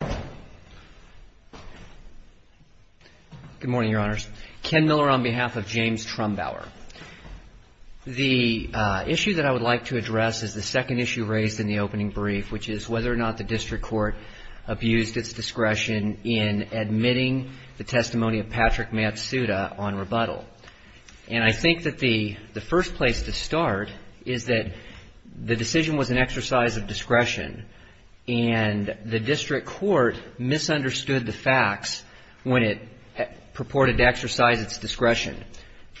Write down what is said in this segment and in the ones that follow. Good morning, your honors. Ken Miller on behalf of James Trumbauer. The issue that I would like to address is the second issue raised in the opening brief, which is whether or not the district court abused its discretion in admitting the testimony of Patrick Matsuda on rebuttal. And I think that the first place to start is that the decision was an exercise of discretion, and the district court misunderstood the facts when it purported to exercise its discretion.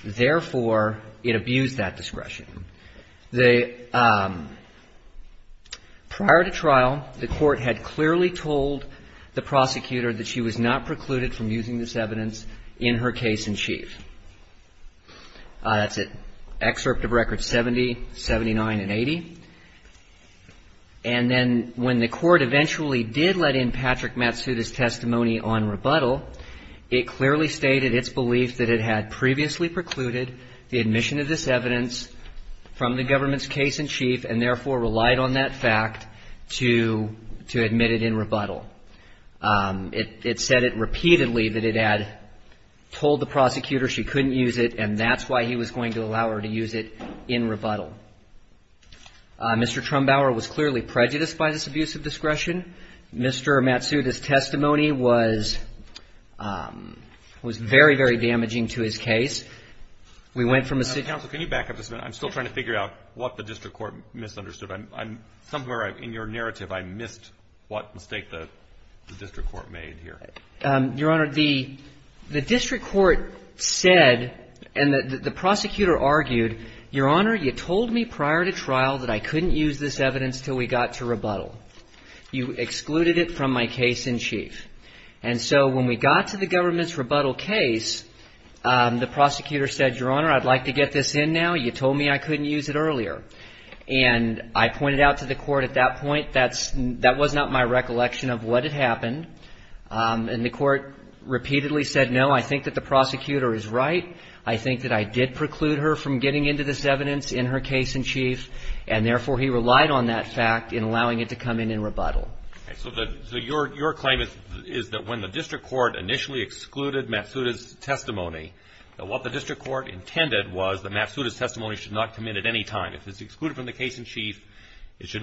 Therefore, it abused that discretion. Prior to trial, the court had clearly told the prosecutor that she was not precluded from using this evidence in her case-in-chief. That's an excerpt of Record 70, 79, and 80. And then when the court eventually did let in Patrick Matsuda's testimony on rebuttal, it clearly stated its belief that it had previously precluded the admission of this evidence from the government's case-in-chief, and therefore relied on that fact to admit it in rebuttal. It said it repeatedly that it had told the prosecutor she couldn't use it, and that's why he was going to allow her to use it in rebuttal. Mr. Trumbauer was clearly prejudiced by this abuse of discretion. Mr. Matsuda's testimony was very, very damaging to his case. We went from a city to a district court misunderstood the facts when it purported that the district court made here. Your Honor, the district court said, and the prosecutor argued, Your Honor, you told me prior to trial that I couldn't use this evidence until we got to rebuttal. You excluded it from my case-in-chief. And so when we got to the government's rebuttal case, the prosecutor said, Your Honor, I'd like to get this in now. You told me I couldn't use it earlier. And I pointed out to the court at that point that that was not my recollection of what had happened. And the court repeatedly said, No, I think that the prosecutor is right. I think that I did preclude her from getting into this evidence in her case-in-chief, and therefore he relied on that fact in allowing it to come in in rebuttal. So your claim is that when the district court initially excluded Matsuda's testimony, that what the district court intended was that Matsuda's testimony should not come in at any time. If it's excluded from the case-in-chief, it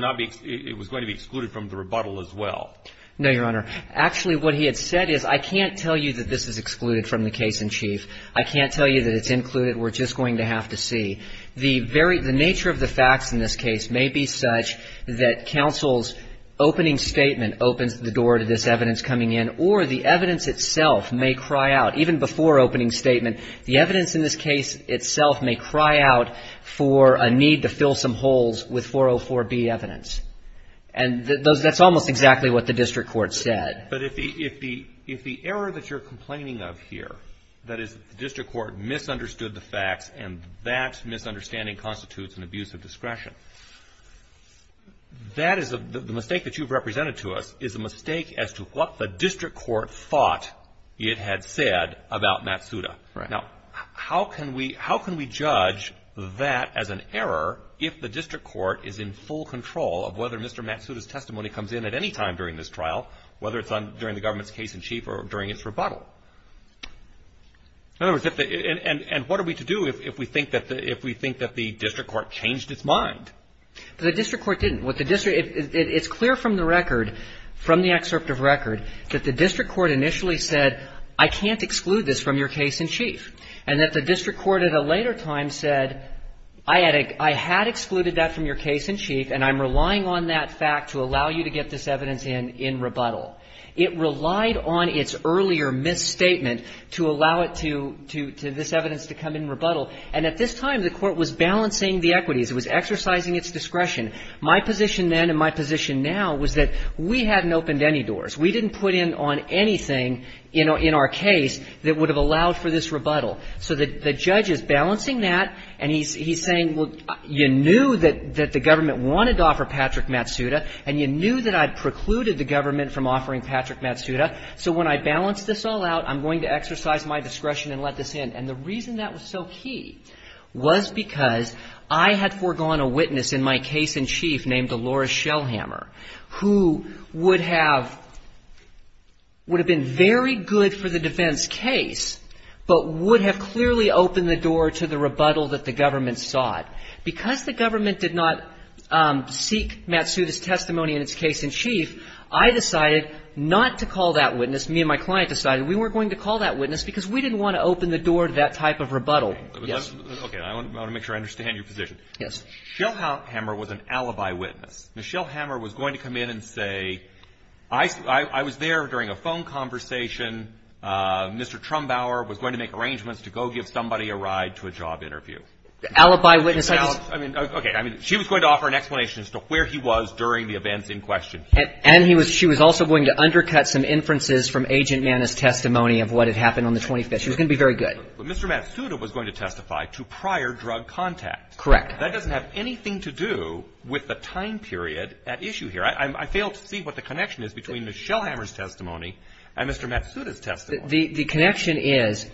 No, Your Honor. Actually, what he had said is, I can't tell you that this is excluded from the case-in-chief. I can't tell you that it's included. We're just going to have to see. The very nature of the facts in this case may be such that counsel's opening statement opens the door to this evidence coming in, or the evidence itself may cry out. Even before opening statement, the evidence in this case itself may cry out for a need to fill some holes with 404B evidence. And that's almost exactly what the district court said. But if the error that you're complaining of here, that is the district court misunderstood the facts, and that misunderstanding constitutes an abuse of discretion, that is the mistake that you've represented to us is a mistake as to what the district court thought it had said about Matsuda. Now, how can we judge that as an error if the district court is in full control of whether Mr. Matsuda's testimony comes in at any time during this trial, whether it's during the government's case-in-chief or during its rebuttal? In other words, and what are we to do if we think that the district court changed its mind? The district court didn't. It's clear from the record, from the excerpt of record, that the district court initially said, I can't exclude this from your case-in-chief, and that the district court at a later time said, I had excluded that from your case-in-chief, and I'm relying on that fact to allow you to get this evidence in, in rebuttal. It relied on its earlier misstatement to allow it to, to this evidence to come in rebuttal. And at this time, the court was balancing the equities. It was exercising its discretion. My position then and my position now was that we hadn't opened any doors. We didn't put in on anything in our case that would have allowed for this rebuttal. So the judge is balancing that, and he's saying, well, you knew that the government wanted to offer Patrick Matsuda, and you knew that I'd precluded the government from offering Patrick Matsuda, so when I balance this all out, I'm going to exercise my discretion and let this in. And the reason that was so key was because I had foregone a witness in my case-in-chief named Dolores Shellhammer, who would have, would have been very good for the defense case, but would have clearly opened the door to the rebuttal that the government sought. Because the government did not seek Matsuda's testimony in its case-in-chief, I decided not to call that witness. Me and my client decided we weren't going to call that witness because we didn't want to open the door to that type of rebuttal. Okay. I want to make sure I understand your position. Yes. Shellhammer was an alibi witness. Shellhammer was going to come in and say, I was there during a phone conversation. Mr. Trumbauer was going to make arrangements to go give somebody a ride to a job interview. Alibi witness? I mean, okay. I mean, she was going to offer an explanation as to where he was during the events in question. And he was, she was also going to undercut some inferences from Agent Mana's testimony of what had happened on the 25th. She was going to be very good. But Mr. Matsuda was going to testify to prior drug contact. Correct. That doesn't have anything to do with the time period at issue here. I fail to see what the connection is between Ms. Shellhammer's testimony and Mr. Matsuda's testimony. The connection is,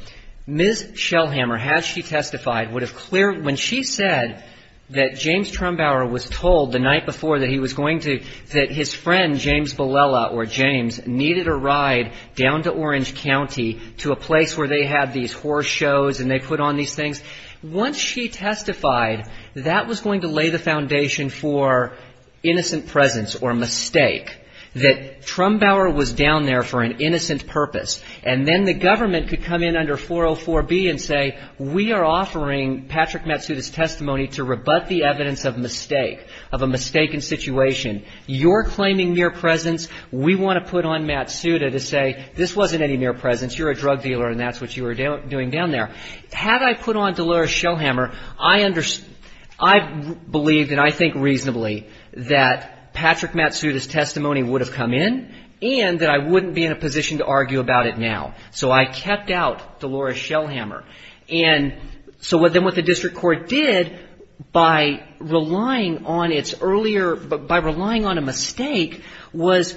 Ms. Shellhammer, had she testified, would have cleared when she said that James Trumbauer was told the night before that he was going to that his friend, James Bilella, or James, needed a ride down to Orange County to a place where they had these horse shows and they put on these things. Once she testified, that was going to lay the foundation for innocent presence or mistake, that Trumbauer was down there for an innocent purpose. And then the government could come in under 404B and say, we are offering Patrick Matsuda's testimony to rebut the evidence of mistake, of a mistaken situation. You're claiming mere presence. We want to put on Matsuda to say this wasn't any mere presence. You're a drug dealer and that's what you were doing down there. Had I put on Dolores Shellhammer, I believe and I think reasonably that Patrick Matsuda's testimony would have come in and that I wouldn't be in a position to argue about it now. So I kept out Dolores Shellhammer. And so then what the district court did by relying on its earlier, by relying on a mistake, was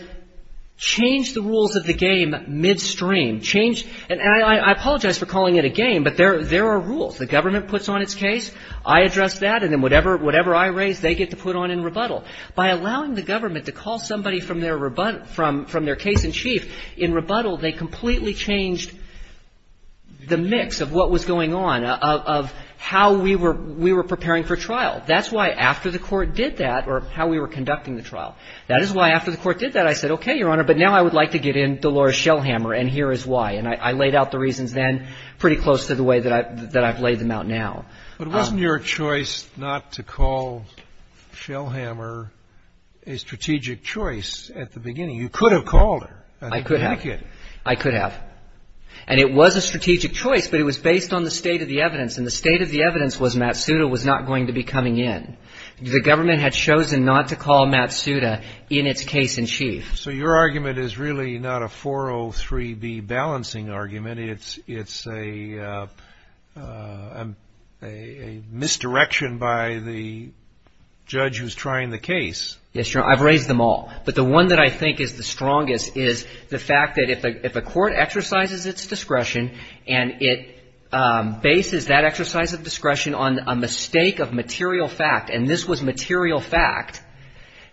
change the rules of the game midstream. Change, and I apologize for calling it a game, but there are rules. The government puts on its case. I address that. And then whatever I raise, they get to put on in rebuttal. By allowing the government to call somebody from their case in chief in rebuttal, they completely changed the mix of what was going on, of how we were preparing for trial. That's why after the court did that, or how we were conducting the trial, that is why after the court did that I said, okay, Your Honor, but now I would like to get in Dolores Shellhammer and here is why. And I laid out the reasons then pretty close to the way that I've laid them out now. But wasn't your choice not to call Shellhammer a strategic choice at the beginning? You could have called her. I could have. I could have. And the state of the evidence was Matsuda was not going to be coming in. The government had chosen not to call Matsuda in its case in chief. So your argument is really not a 403B balancing argument. It's a misdirection by the judge who is trying the case. Yes, Your Honor. I've raised them all. But the one that I think is the strongest is the fact that if a court exercises its discretion on a mistake of material fact, and this was material fact,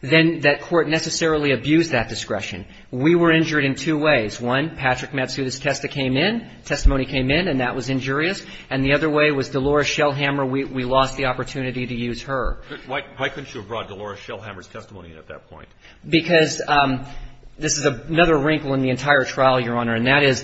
then that court necessarily abused that discretion. We were injured in two ways. One, Patrick Matsuda's testa came in, testimony came in, and that was injurious. And the other way was Dolores Shellhammer, we lost the opportunity to use her. Why couldn't you have brought Dolores Shellhammer's testimony in at that point? Because this is another wrinkle in the entire trial, Your Honor, and that is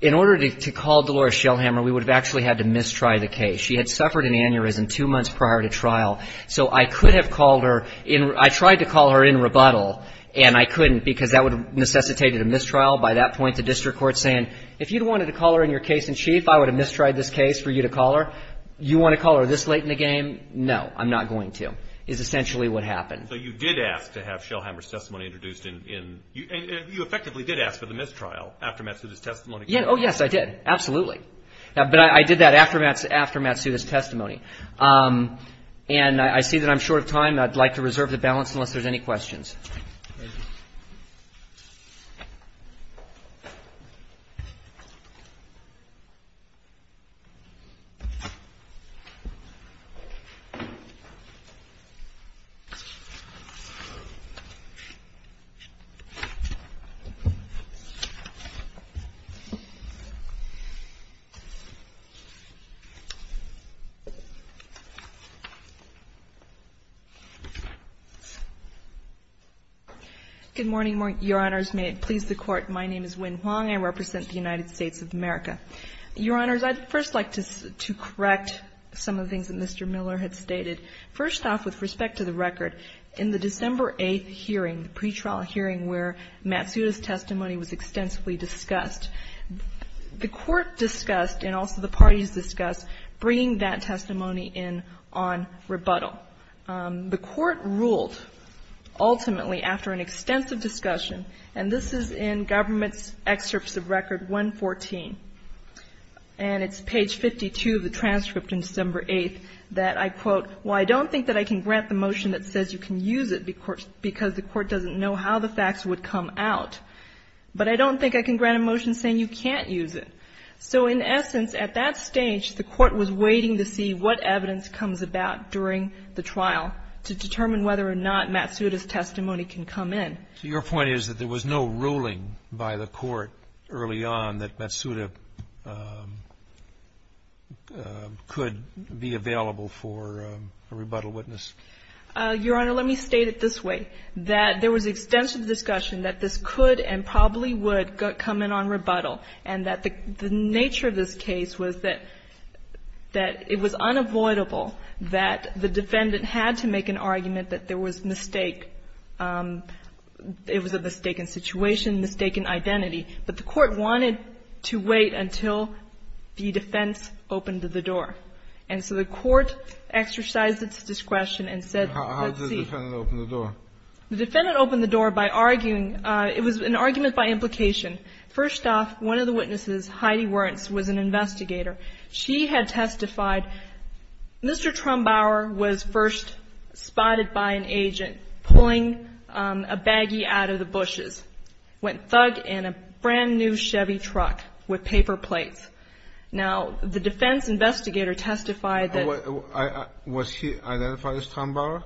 in order to call Dolores Shellhammer, we would have actually had to mistry the case. She had suffered an aneurysm two months prior to trial. So I could have called her in. I tried to call her in rebuttal, and I couldn't because that would have necessitated a mistrial. By that point, the district court is saying, if you'd wanted to call her in your case in chief, I would have mistried this case for you to call her. You want to call her this late in the game? No, I'm not going to, is essentially what happened. So you did ask to have Shellhammer's testimony introduced in. You effectively did ask for the mistrial after Matsuda's testimony came in. Oh, yes, I did. Absolutely. But I did that after Matsuda's testimony. And I see that I'm short of time. I'd like to reserve the balance unless there's any questions. Good morning, Your Honors. May it please the Court. My name is Wynne Huang. I represent the United States of America. Your Honors, I'd first like to correct some of the things that Mr. Miller had stated. First off, with respect to the record, in the December 8th hearing, the pretrial hearing where Matsuda's testimony was extensively discussed, the Court discussed, and also the parties discussed, bringing that testimony in on rebuttal. The Court ruled, ultimately, after an extensive discussion, and this is in Government's Excerpts of Record 114, and it's page 52 of the transcript in December 8th, that, I quote, Well, I don't think that I can grant the motion that says you can use it because the Court doesn't know how the facts would come out. But I don't think I can grant a motion saying you can't use it. So in essence, at that stage, the Court was waiting to see what evidence comes about during the trial to determine whether or not Matsuda's testimony can come in. So your point is that there was no ruling by the Court early on that Matsuda could be available for a rebuttal witness? Your Honor, let me state it this way. That there was extensive discussion that this could and probably would come in on rebuttal, and that the nature of this case was that it was unavoidable that the defendant had to make an argument that there was mistake. It was a mistaken situation, mistaken identity. But the Court wanted to wait until the defense opened the door. And so the Court exercised its discretion and said, let's see. How did the defendant open the door? The defendant opened the door by arguing. It was an argument by implication. First off, one of the witnesses, Heidi Wernz, was an investigator. She had testified. Mr. Trumbauer was first spotted by an agent pulling a baggie out of the bushes, went thug in a brand-new Chevy truck with paper plates. Now, the defense investigator testified that he was. Was he identified as Trumbauer?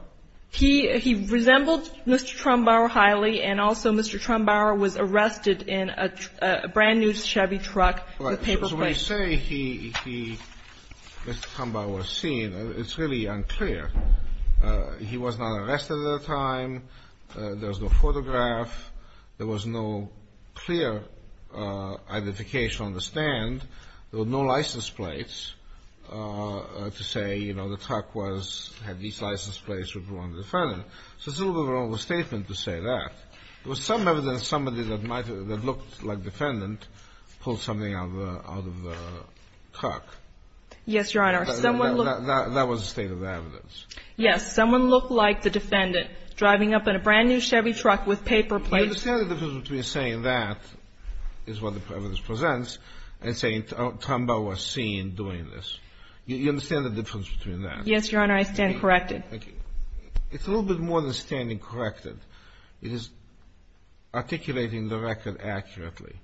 He resembled Mr. Trumbauer highly, and also Mr. Trumbauer was arrested in a brand-new Chevy truck with paper plates. When we say he, Mr. Trumbauer was seen, it's really unclear. He was not arrested at the time. There was no photograph. There was no clear identification on the stand. There were no license plates to say, you know, the truck had these license plates with one defendant. So it's a little bit of a wrong statement to say that. There was some evidence somebody that looked like defendant pulled something out of the truck. Yes, Your Honor. That was the state of the evidence. Yes. Someone looked like the defendant driving up in a brand-new Chevy truck with paper plates. Do you understand the difference between saying that is what the evidence presents and saying Trumbauer was seen doing this? Do you understand the difference between that? Yes, Your Honor. I stand corrected. Thank you. It's a little bit more than standing corrected. It is articulating the record accurately.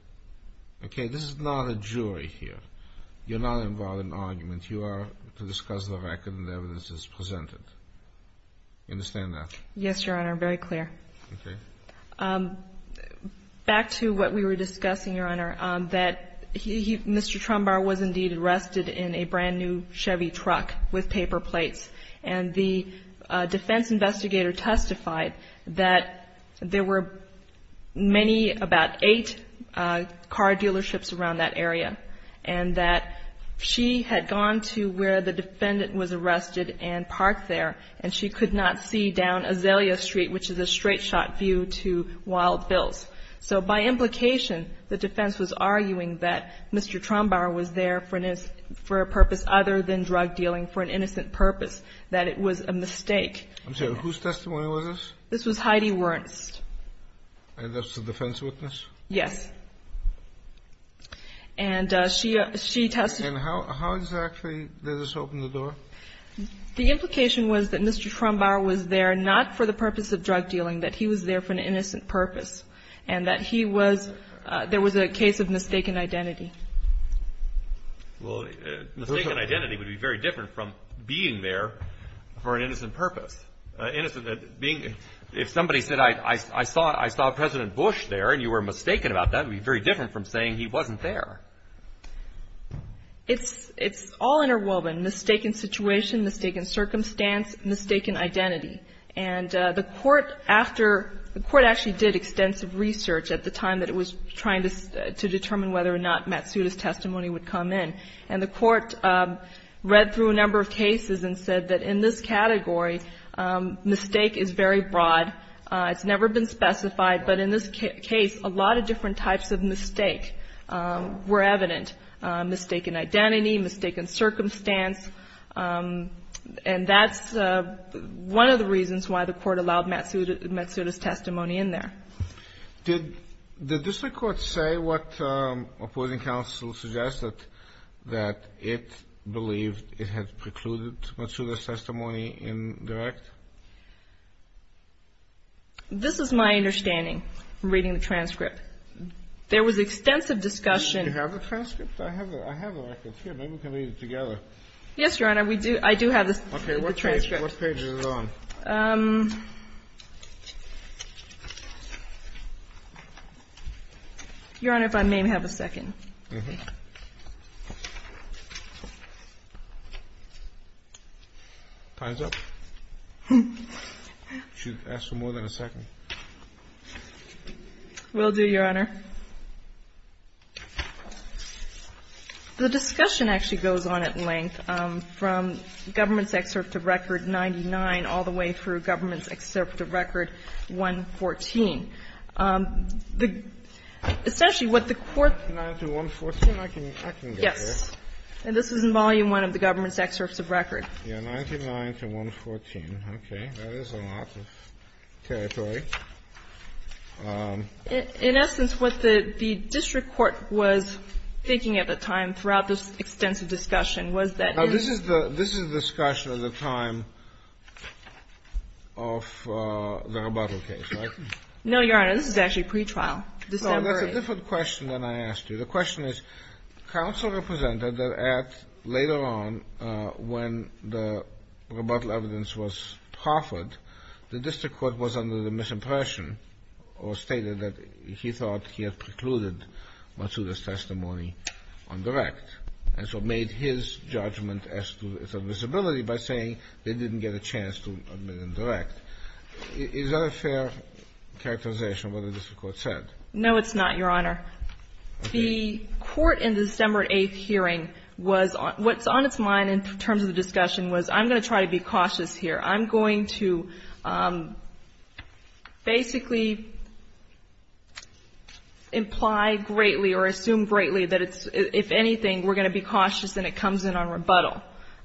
Okay? This is not a jury here. You're not involved in an argument. You are to discuss the record and the evidence as presented. You understand that? Yes, Your Honor. Very clear. Okay. Back to what we were discussing, Your Honor, that Mr. Trumbauer was indeed arrested in a brand-new Chevy truck with paper plates, and the defense investigator testified that there were many, about eight car dealerships around that area, and that she had gone to where the defendant was arrested and parked there, and she could not see down Azalea Street, which is a straight-shot view to Wild Hills. So by implication, the defense was arguing that Mr. Trumbauer was there for a purpose other than drug dealing, for an innocent purpose, that it was a mistake. I'm sorry. Whose testimony was this? This was Heidi Wernst. And that's the defense witness? Yes. And she testified. And how exactly did this open the door? The implication was that Mr. Trumbauer was there not for the purpose of drug dealing, that he was there for an innocent purpose, and that he was – there was a case of mistaken identity. Well, mistaken identity would be very different from being there for an innocent purpose. If somebody said, I saw President Bush there, and you were mistaken about that, it would be very different from saying he wasn't there. It's all interwoven, mistaken situation, mistaken circumstance, mistaken identity. And the Court after – the Court actually did extensive research at the time that it was trying to determine whether or not Matsuda's testimony would come in. And the Court read through a number of cases and said that in this category, mistake is very broad. It's never been specified. But in this case, a lot of different types of mistake were evident, mistaken identity, mistaken circumstance. And that's one of the reasons why the Court allowed Matsuda's testimony in there. Did the district court say what opposing counsel suggested, that it believed it had precluded Matsuda's testimony in direct? This is my understanding from reading the transcript. There was extensive discussion. Do you have the transcript? I have a record here. Maybe we can read it together. Yes, Your Honor. We do. I do have the transcript. Okay. What page is it on? Your Honor, if I may have a second. Time's up. You should ask for more than a second. Will do, Your Honor. The discussion actually goes on at length from Government's Excerpt of Record 99 all the way through Government's Excerpt of Record 114. Essentially what the Court ---- Yes. And this is in Volume I of the Government's Excerpt of Record. Yes, 99 to 114. Okay. That is a lot of territory. In essence, what the district court was thinking at the time throughout this extensive discussion was that ---- Now, this is the ---- this is the discussion at the time of the rebuttal case, right? No, Your Honor. This is actually pretrial, December 8th. Well, that's a different question than I asked you. The question is, counsel represented that at later on when the rebuttal evidence was proffered, the district court was under the misimpression or stated that he thought he had precluded Matsuda's testimony on direct and so made his judgment as to its admissibility by saying they didn't get a chance to admit him direct. Is that a fair characterization of what the district court said? No, it's not, Your Honor. The court in the December 8th hearing was ---- what's on its mind in terms of the discussion was I'm going to try to be cautious here, I'm going to basically imply greatly or assume greatly that if anything we're going to be cautious and it comes in on rebuttal.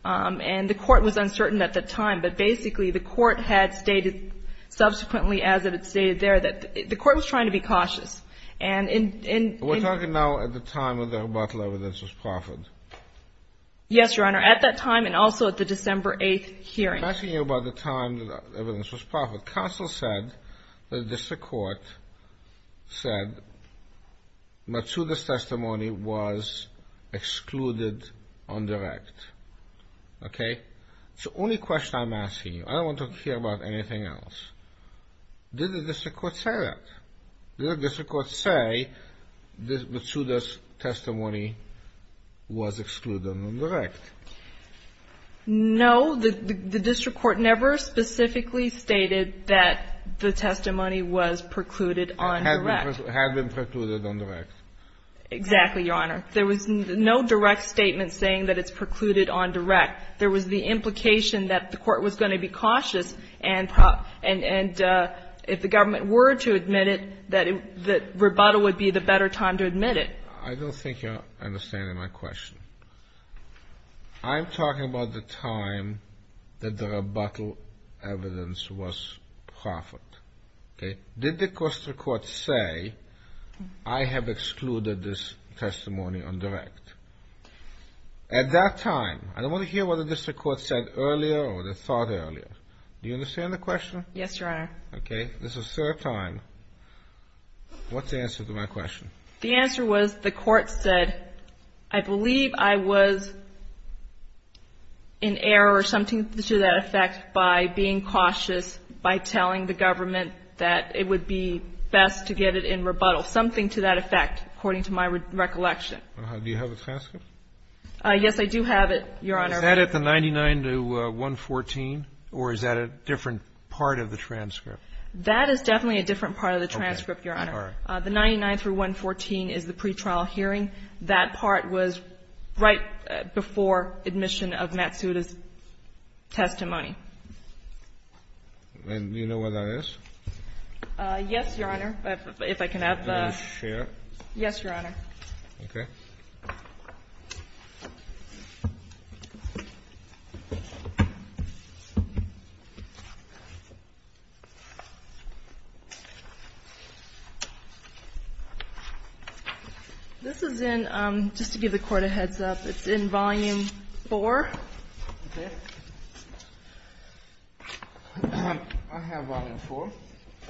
And the court was uncertain at the time, but basically the court had stated subsequently as it had stated there that the court was trying to be cautious. And in ---- We're talking now at the time of the rebuttal evidence was proffered. Yes, Your Honor, at that time and also at the December 8th hearing. I'm asking you about the time the evidence was proffered. Counsel said the district court said Matsuda's testimony was excluded on direct, okay? It's the only question I'm asking you. I don't want to hear about anything else. Did the district court say that? Did the district court say Matsuda's testimony was excluded on direct? No. The district court never specifically stated that the testimony was precluded on direct. Had been precluded on direct. Exactly, Your Honor. There was no direct statement saying that it's precluded on direct. There was the implication that the court was going to be cautious and if the government were to admit it, that rebuttal would be the better time to admit it. I don't think you're understanding my question. I'm talking about the time that the rebuttal evidence was proffered, okay? Did the district court say I have excluded this testimony on direct? At that time, I don't want to hear what the district court said earlier or the thought earlier. Do you understand the question? Yes, Your Honor. Okay. This is the third time. What's the answer to my question? The answer was the court said I believe I was in error or something to that effect by being cautious, by telling the government that it would be best to get it in rebuttal, something to that effect, according to my recollection. Do you have a transcript? Yes, I do have it, Your Honor. Is that at the 99 to 114, or is that a different part of the transcript? That is definitely a different part of the transcript, Your Honor. Okay. 99 to 114 is the pretrial hearing. That part was right before admission of Matsuda's testimony. And do you know where that is? Yes, Your Honor, if I can have the ---- Can I share? Yes, Your Honor. Okay. This is in, just to give the Court a heads-up, it's in Volume 4. Okay. I have Volume 4.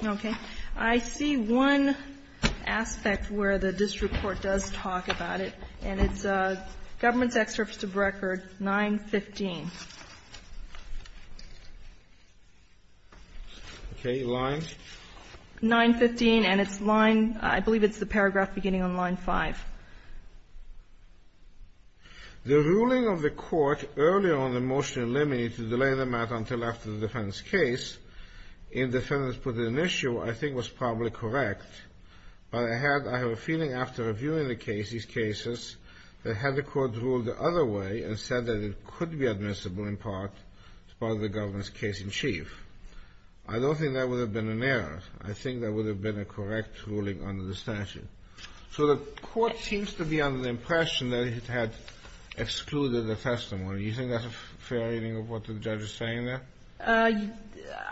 Okay. I see one aspect where the district court does talk about it, and it's Government's Excerpt of Record 915. Okay. Line? 915, and it's line ---- I believe it's the paragraph beginning on line 5. The ruling of the Court earlier on the motion in limine to delay the matter until after the defendant's case, in the sentence put in issue, I think was probably correct, but I had ---- I have a feeling after reviewing the case, these cases, that had the Court ruled the other way and said that it could be admissible in part as part of the Government's case in chief. I don't think that would have been an error. I think that would have been a correct ruling under the statute. So the Court seems to be under the impression that it had excluded the testimony. Do you think that's a fair reading of what the judge is saying there?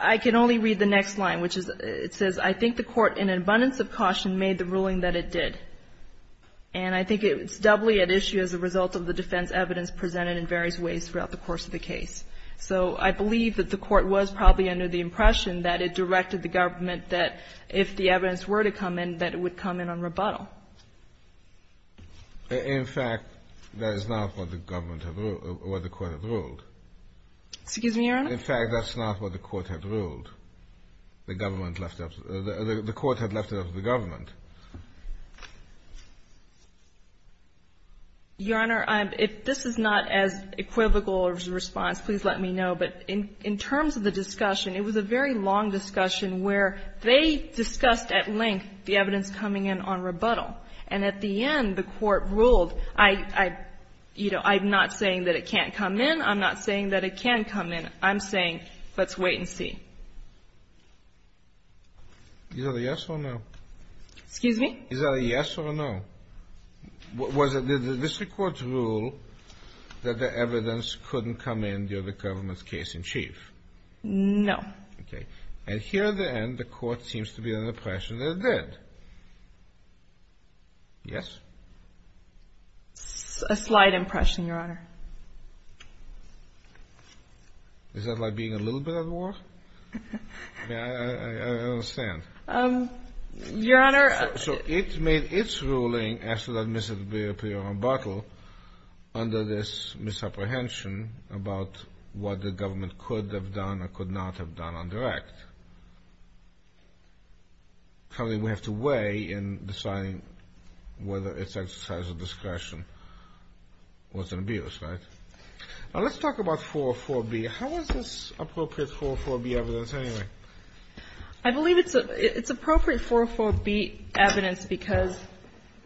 I can only read the next line, which is, it says, I think the Court in an abundance of caution made the ruling that it did. And I think it's doubly at issue as a result of the defense evidence presented in various ways throughout the course of the case. So I believe that the Court was probably under the impression that it directed the Government that if the evidence were to come in, that it would come in on rebuttal. In fact, that is not what the Government ---- what the Court had ruled. Excuse me, Your Honor? In fact, that's not what the Court had ruled. The Government left up ---- the Court had left it up to the Government. Your Honor, if this is not as equivocal as your response, please let me know. But in terms of the discussion, it was a very long discussion where they discussed at length the evidence coming in on rebuttal. And at the end, the Court ruled, I, you know, I'm not saying that it can't come in. I'm not saying that it can come in. I'm saying let's wait and see. Is that a yes or a no? Excuse me? Is that a yes or a no? Was it the District Court's rule that the evidence couldn't come in due to the Government's case in chief? No. Okay. And here at the end, the Court seems to be under the impression that it did. Yes? A slight impression, Your Honor. Is that by being a little bit of a whore? I mean, I understand. Your Honor, I ---- So it made its ruling after that misapprehension rebuttal under this misapprehension about what the Government could have done or could not have done on the right. Something we have to weigh in deciding whether its exercise of discretion was an abuse, right? Now, let's talk about 404B. How is this appropriate 404B evidence anyway? I believe it's appropriate 404B evidence because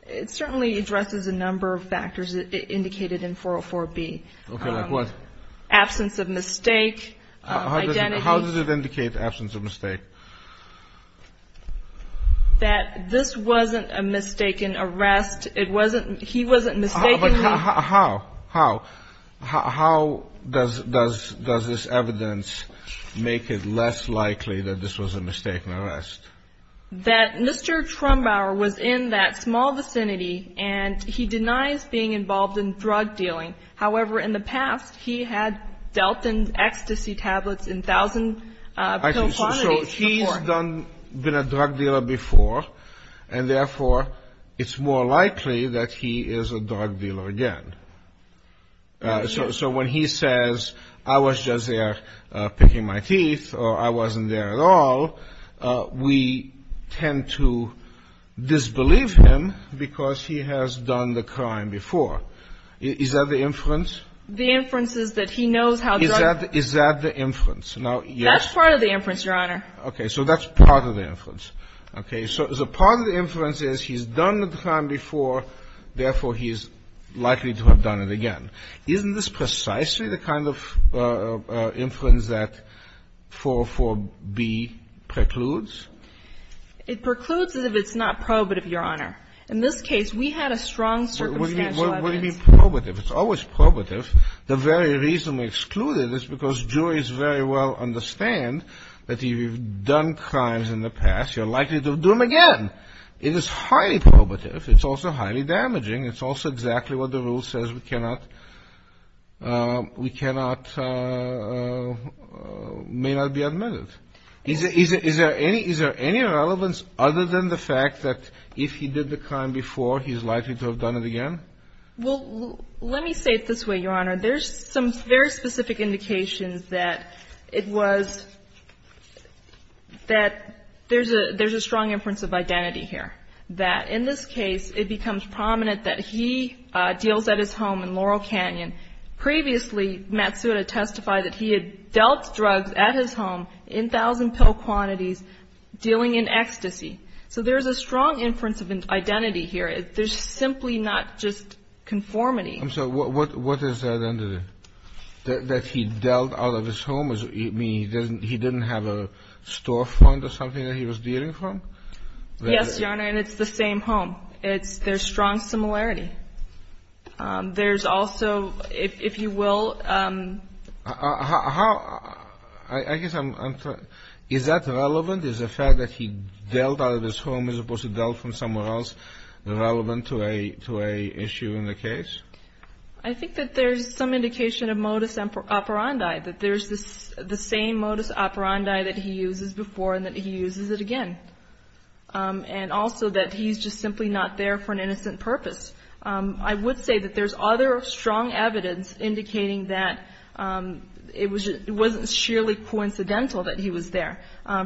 it certainly addresses a number of factors indicated in 404B. Okay, like what? Absence of mistake, identity. How does it indicate absence of mistake? That this wasn't a mistaken arrest. It wasn't ---- He wasn't mistakenly. How? How? How does this evidence make it less likely that this was a mistaken arrest? That Mr. Trumbauer was in that small vicinity, and he denies being involved in drug dealing. However, in the past, he had dealt in ecstasy tablets in thousand pill quantities before. So he's been a drug dealer before, and therefore, it's more likely that he is a drug dealer again. So when he says, I was just there picking my teeth, or I wasn't there at all, we tend to disbelieve him because he has done the crime before. Is that the inference? The inference is that he knows how drugs ---- Is that the inference? That's part of the inference, Your Honor. So that's part of the inference. Okay. So part of the inference is he's done the crime before. Therefore, he is likely to have done it again. Isn't this precisely the kind of inference that 404b precludes? It precludes it if it's not probative, Your Honor. In this case, we had a strong circumstantial evidence. What do you mean probative? It's always probative. The very reason we exclude it is because juries very well understand that if you've done crimes in the past, you're likely to do them again. It is highly probative. It's also highly damaging. It's also exactly what the rule says. We cannot ---- we cannot ---- may not be admitted. Is there any relevance other than the fact that if he did the crime before, he's likely to have done it again? Well, let me say it this way, Your Honor. There's some very specific indications that it was ---- that there's a strong inference of identity here. That in this case, it becomes prominent that he deals at his home in Laurel Canyon. Previously, Matsuda testified that he had dealt drugs at his home in thousand pill quantities, dealing in ecstasy. So there's a strong inference of identity here. There's simply not just conformity. I'm sorry. What is that identity? That he dealt out of his home, meaning he didn't have a storefront or something that he was dealing from? Yes, Your Honor, and it's the same home. It's ---- there's strong similarity. There's also, if you will ---- How ---- I guess I'm ---- is that relevant? Is the fact that he dealt out of his home as opposed to dealt from somewhere else relevant to a issue in the case? I think that there's some indication of modus operandi, that there's the same modus operandi that he uses before and that he uses it again, and also that he's just simply not there for an innocent purpose. I would say that there's other strong evidence indicating that it wasn't sheerly coincidental that he was there.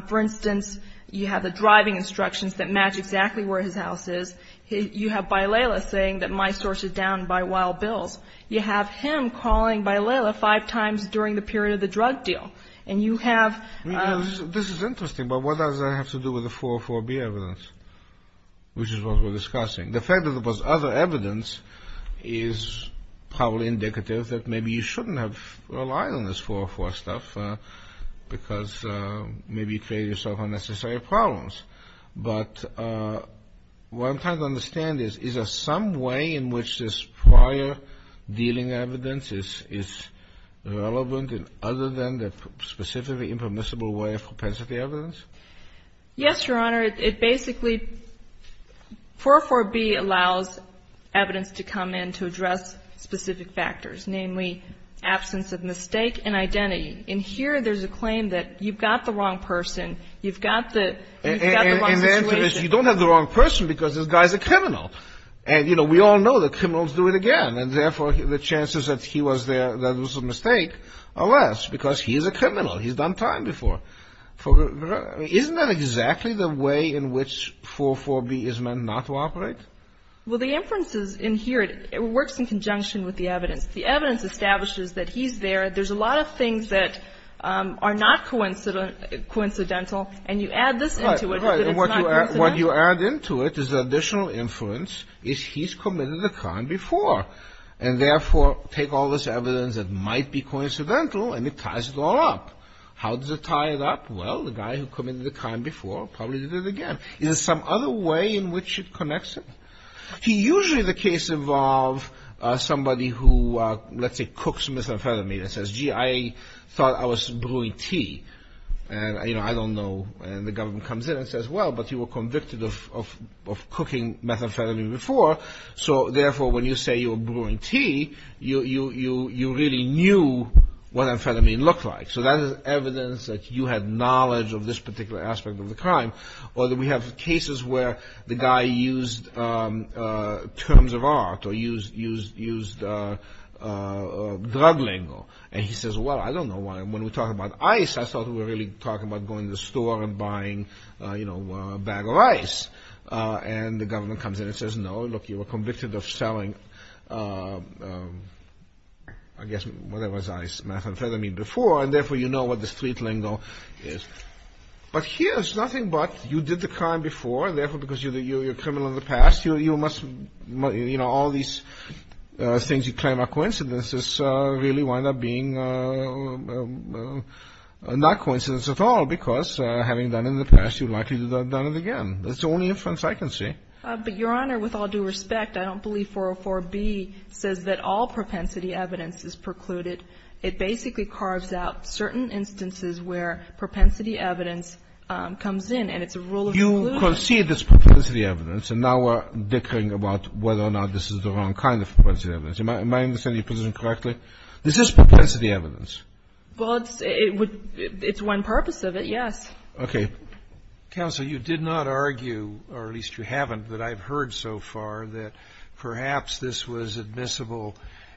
For instance, you have the driving instructions that match exactly where his house is. You have Bailela saying that my source is down by wild bills. You have him calling Bailela five times during the period of the drug deal, and you have ---- This is interesting, but what does that have to do with the 404B evidence, which is what we're discussing? The fact that there was other evidence is probably indicative that maybe you shouldn't have relied on this 404 stuff because maybe you'd create yourself unnecessary problems. But what I'm trying to understand is, is there some way in which this prior dealing evidence is relevant other than the specifically impermissible way of propensity evidence? Yes, Your Honor. It basically 404B allows evidence to come in to address specific factors, namely absence of mistake and identity. In here, there's a claim that you've got the wrong person. You've got the wrong situation. You don't have the wrong person because this guy's a criminal. And, you know, we all know that criminals do it again, and therefore the chances that he was there, that it was a mistake, are less because he's a criminal. He's done time before. Isn't that exactly the way in which 404B is meant not to operate? Well, the inferences in here, it works in conjunction with the evidence. The evidence establishes that he's there. There's a lot of things that are not coincidental, and you add this into it so that it's not coincidental. Right. And what you add into it is the additional inference is he's committed a crime before, and therefore take all this evidence that might be coincidental and it ties it all up. How does it tie it up? Well, the guy who committed the crime before probably did it again. Is there some other way in which it connects it? Usually the case involves somebody who, let's say, cooks methamphetamine and says, gee, I thought I was brewing tea. And, you know, I don't know, and the government comes in and says, well, but you were convicted of cooking methamphetamine before, so therefore when you say you were brewing tea, you really knew what amphetamine looked like. So that is evidence that you had knowledge of this particular aspect of the crime. Or we have cases where the guy used terms of art or used drug lingo, and he says, well, I don't know why. When we talk about ice, I thought we were really talking about going to the store and buying a bag of ice. And the government comes in and says, no, look, you were convicted of selling, I guess, whatever it was, ice, methamphetamine, before, and therefore you know what the street lingo is. But here it's nothing but you did the crime before, and therefore because you're a criminal in the past, you must, you know, all these things you claim are coincidences really wind up being not coincidences at all, because having done it in the past, you're likely to have done it again. That's the only inference I can see. But, Your Honor, with all due respect, I don't believe 404b says that all propensity evidence is precluded. It basically carves out certain instances where propensity evidence comes in, and it's a rule of conclusion. You concede it's propensity evidence, and now we're dickering about whether or not this is the wrong kind of propensity evidence. Am I understanding your position correctly? This is propensity evidence. Well, it's one purpose of it, yes. Okay. Counsel, you did not argue, or at least you haven't, that I've heard so far that perhaps this was admissible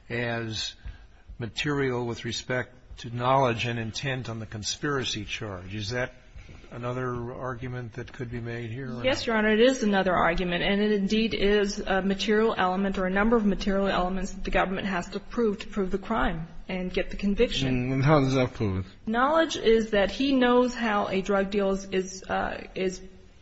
as material with respect to knowledge and intent on the conspiracy charge. Is that another argument that could be made here? Yes, Your Honor, it is another argument, and it indeed is a material element or a number of material elements that the government has to prove to prove the crime and get the conviction. And how does that prove it? Knowledge is that he knows how a drug deal is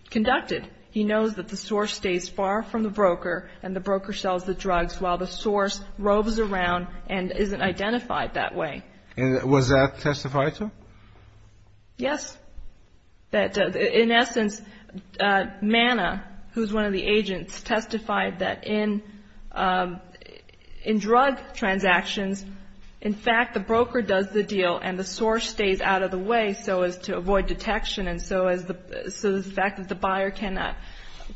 conducted. He knows that the source stays far from the broker and the broker sells the drugs while the source roves around and isn't identified that way. And was that testified to? Yes. That, in essence, Manna, who's one of the agents, testified that in drug transactions, in fact, the broker does the deal and the source stays out of the way so as to avoid detection and so the fact that the buyer cannot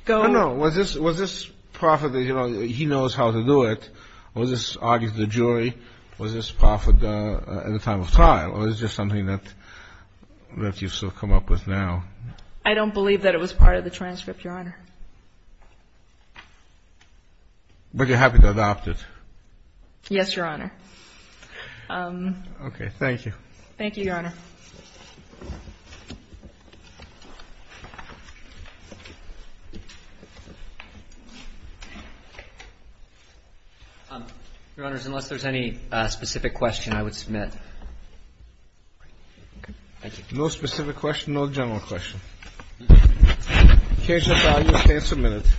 go. No, no. Was this profit that he knows how to do it? Was this argued to the jury? Was this profit at the time of trial? Or is this just something that you've still come up with now? I don't believe that it was part of the transcript, Your Honor. But you're happy to adopt it? Yes, Your Honor. Okay. Thank you. Thank you, Your Honor. Your Honors, unless there's any specific question, I would submit. Okay. Thank you. No specific question, no general question. The case is now used to answer minutes.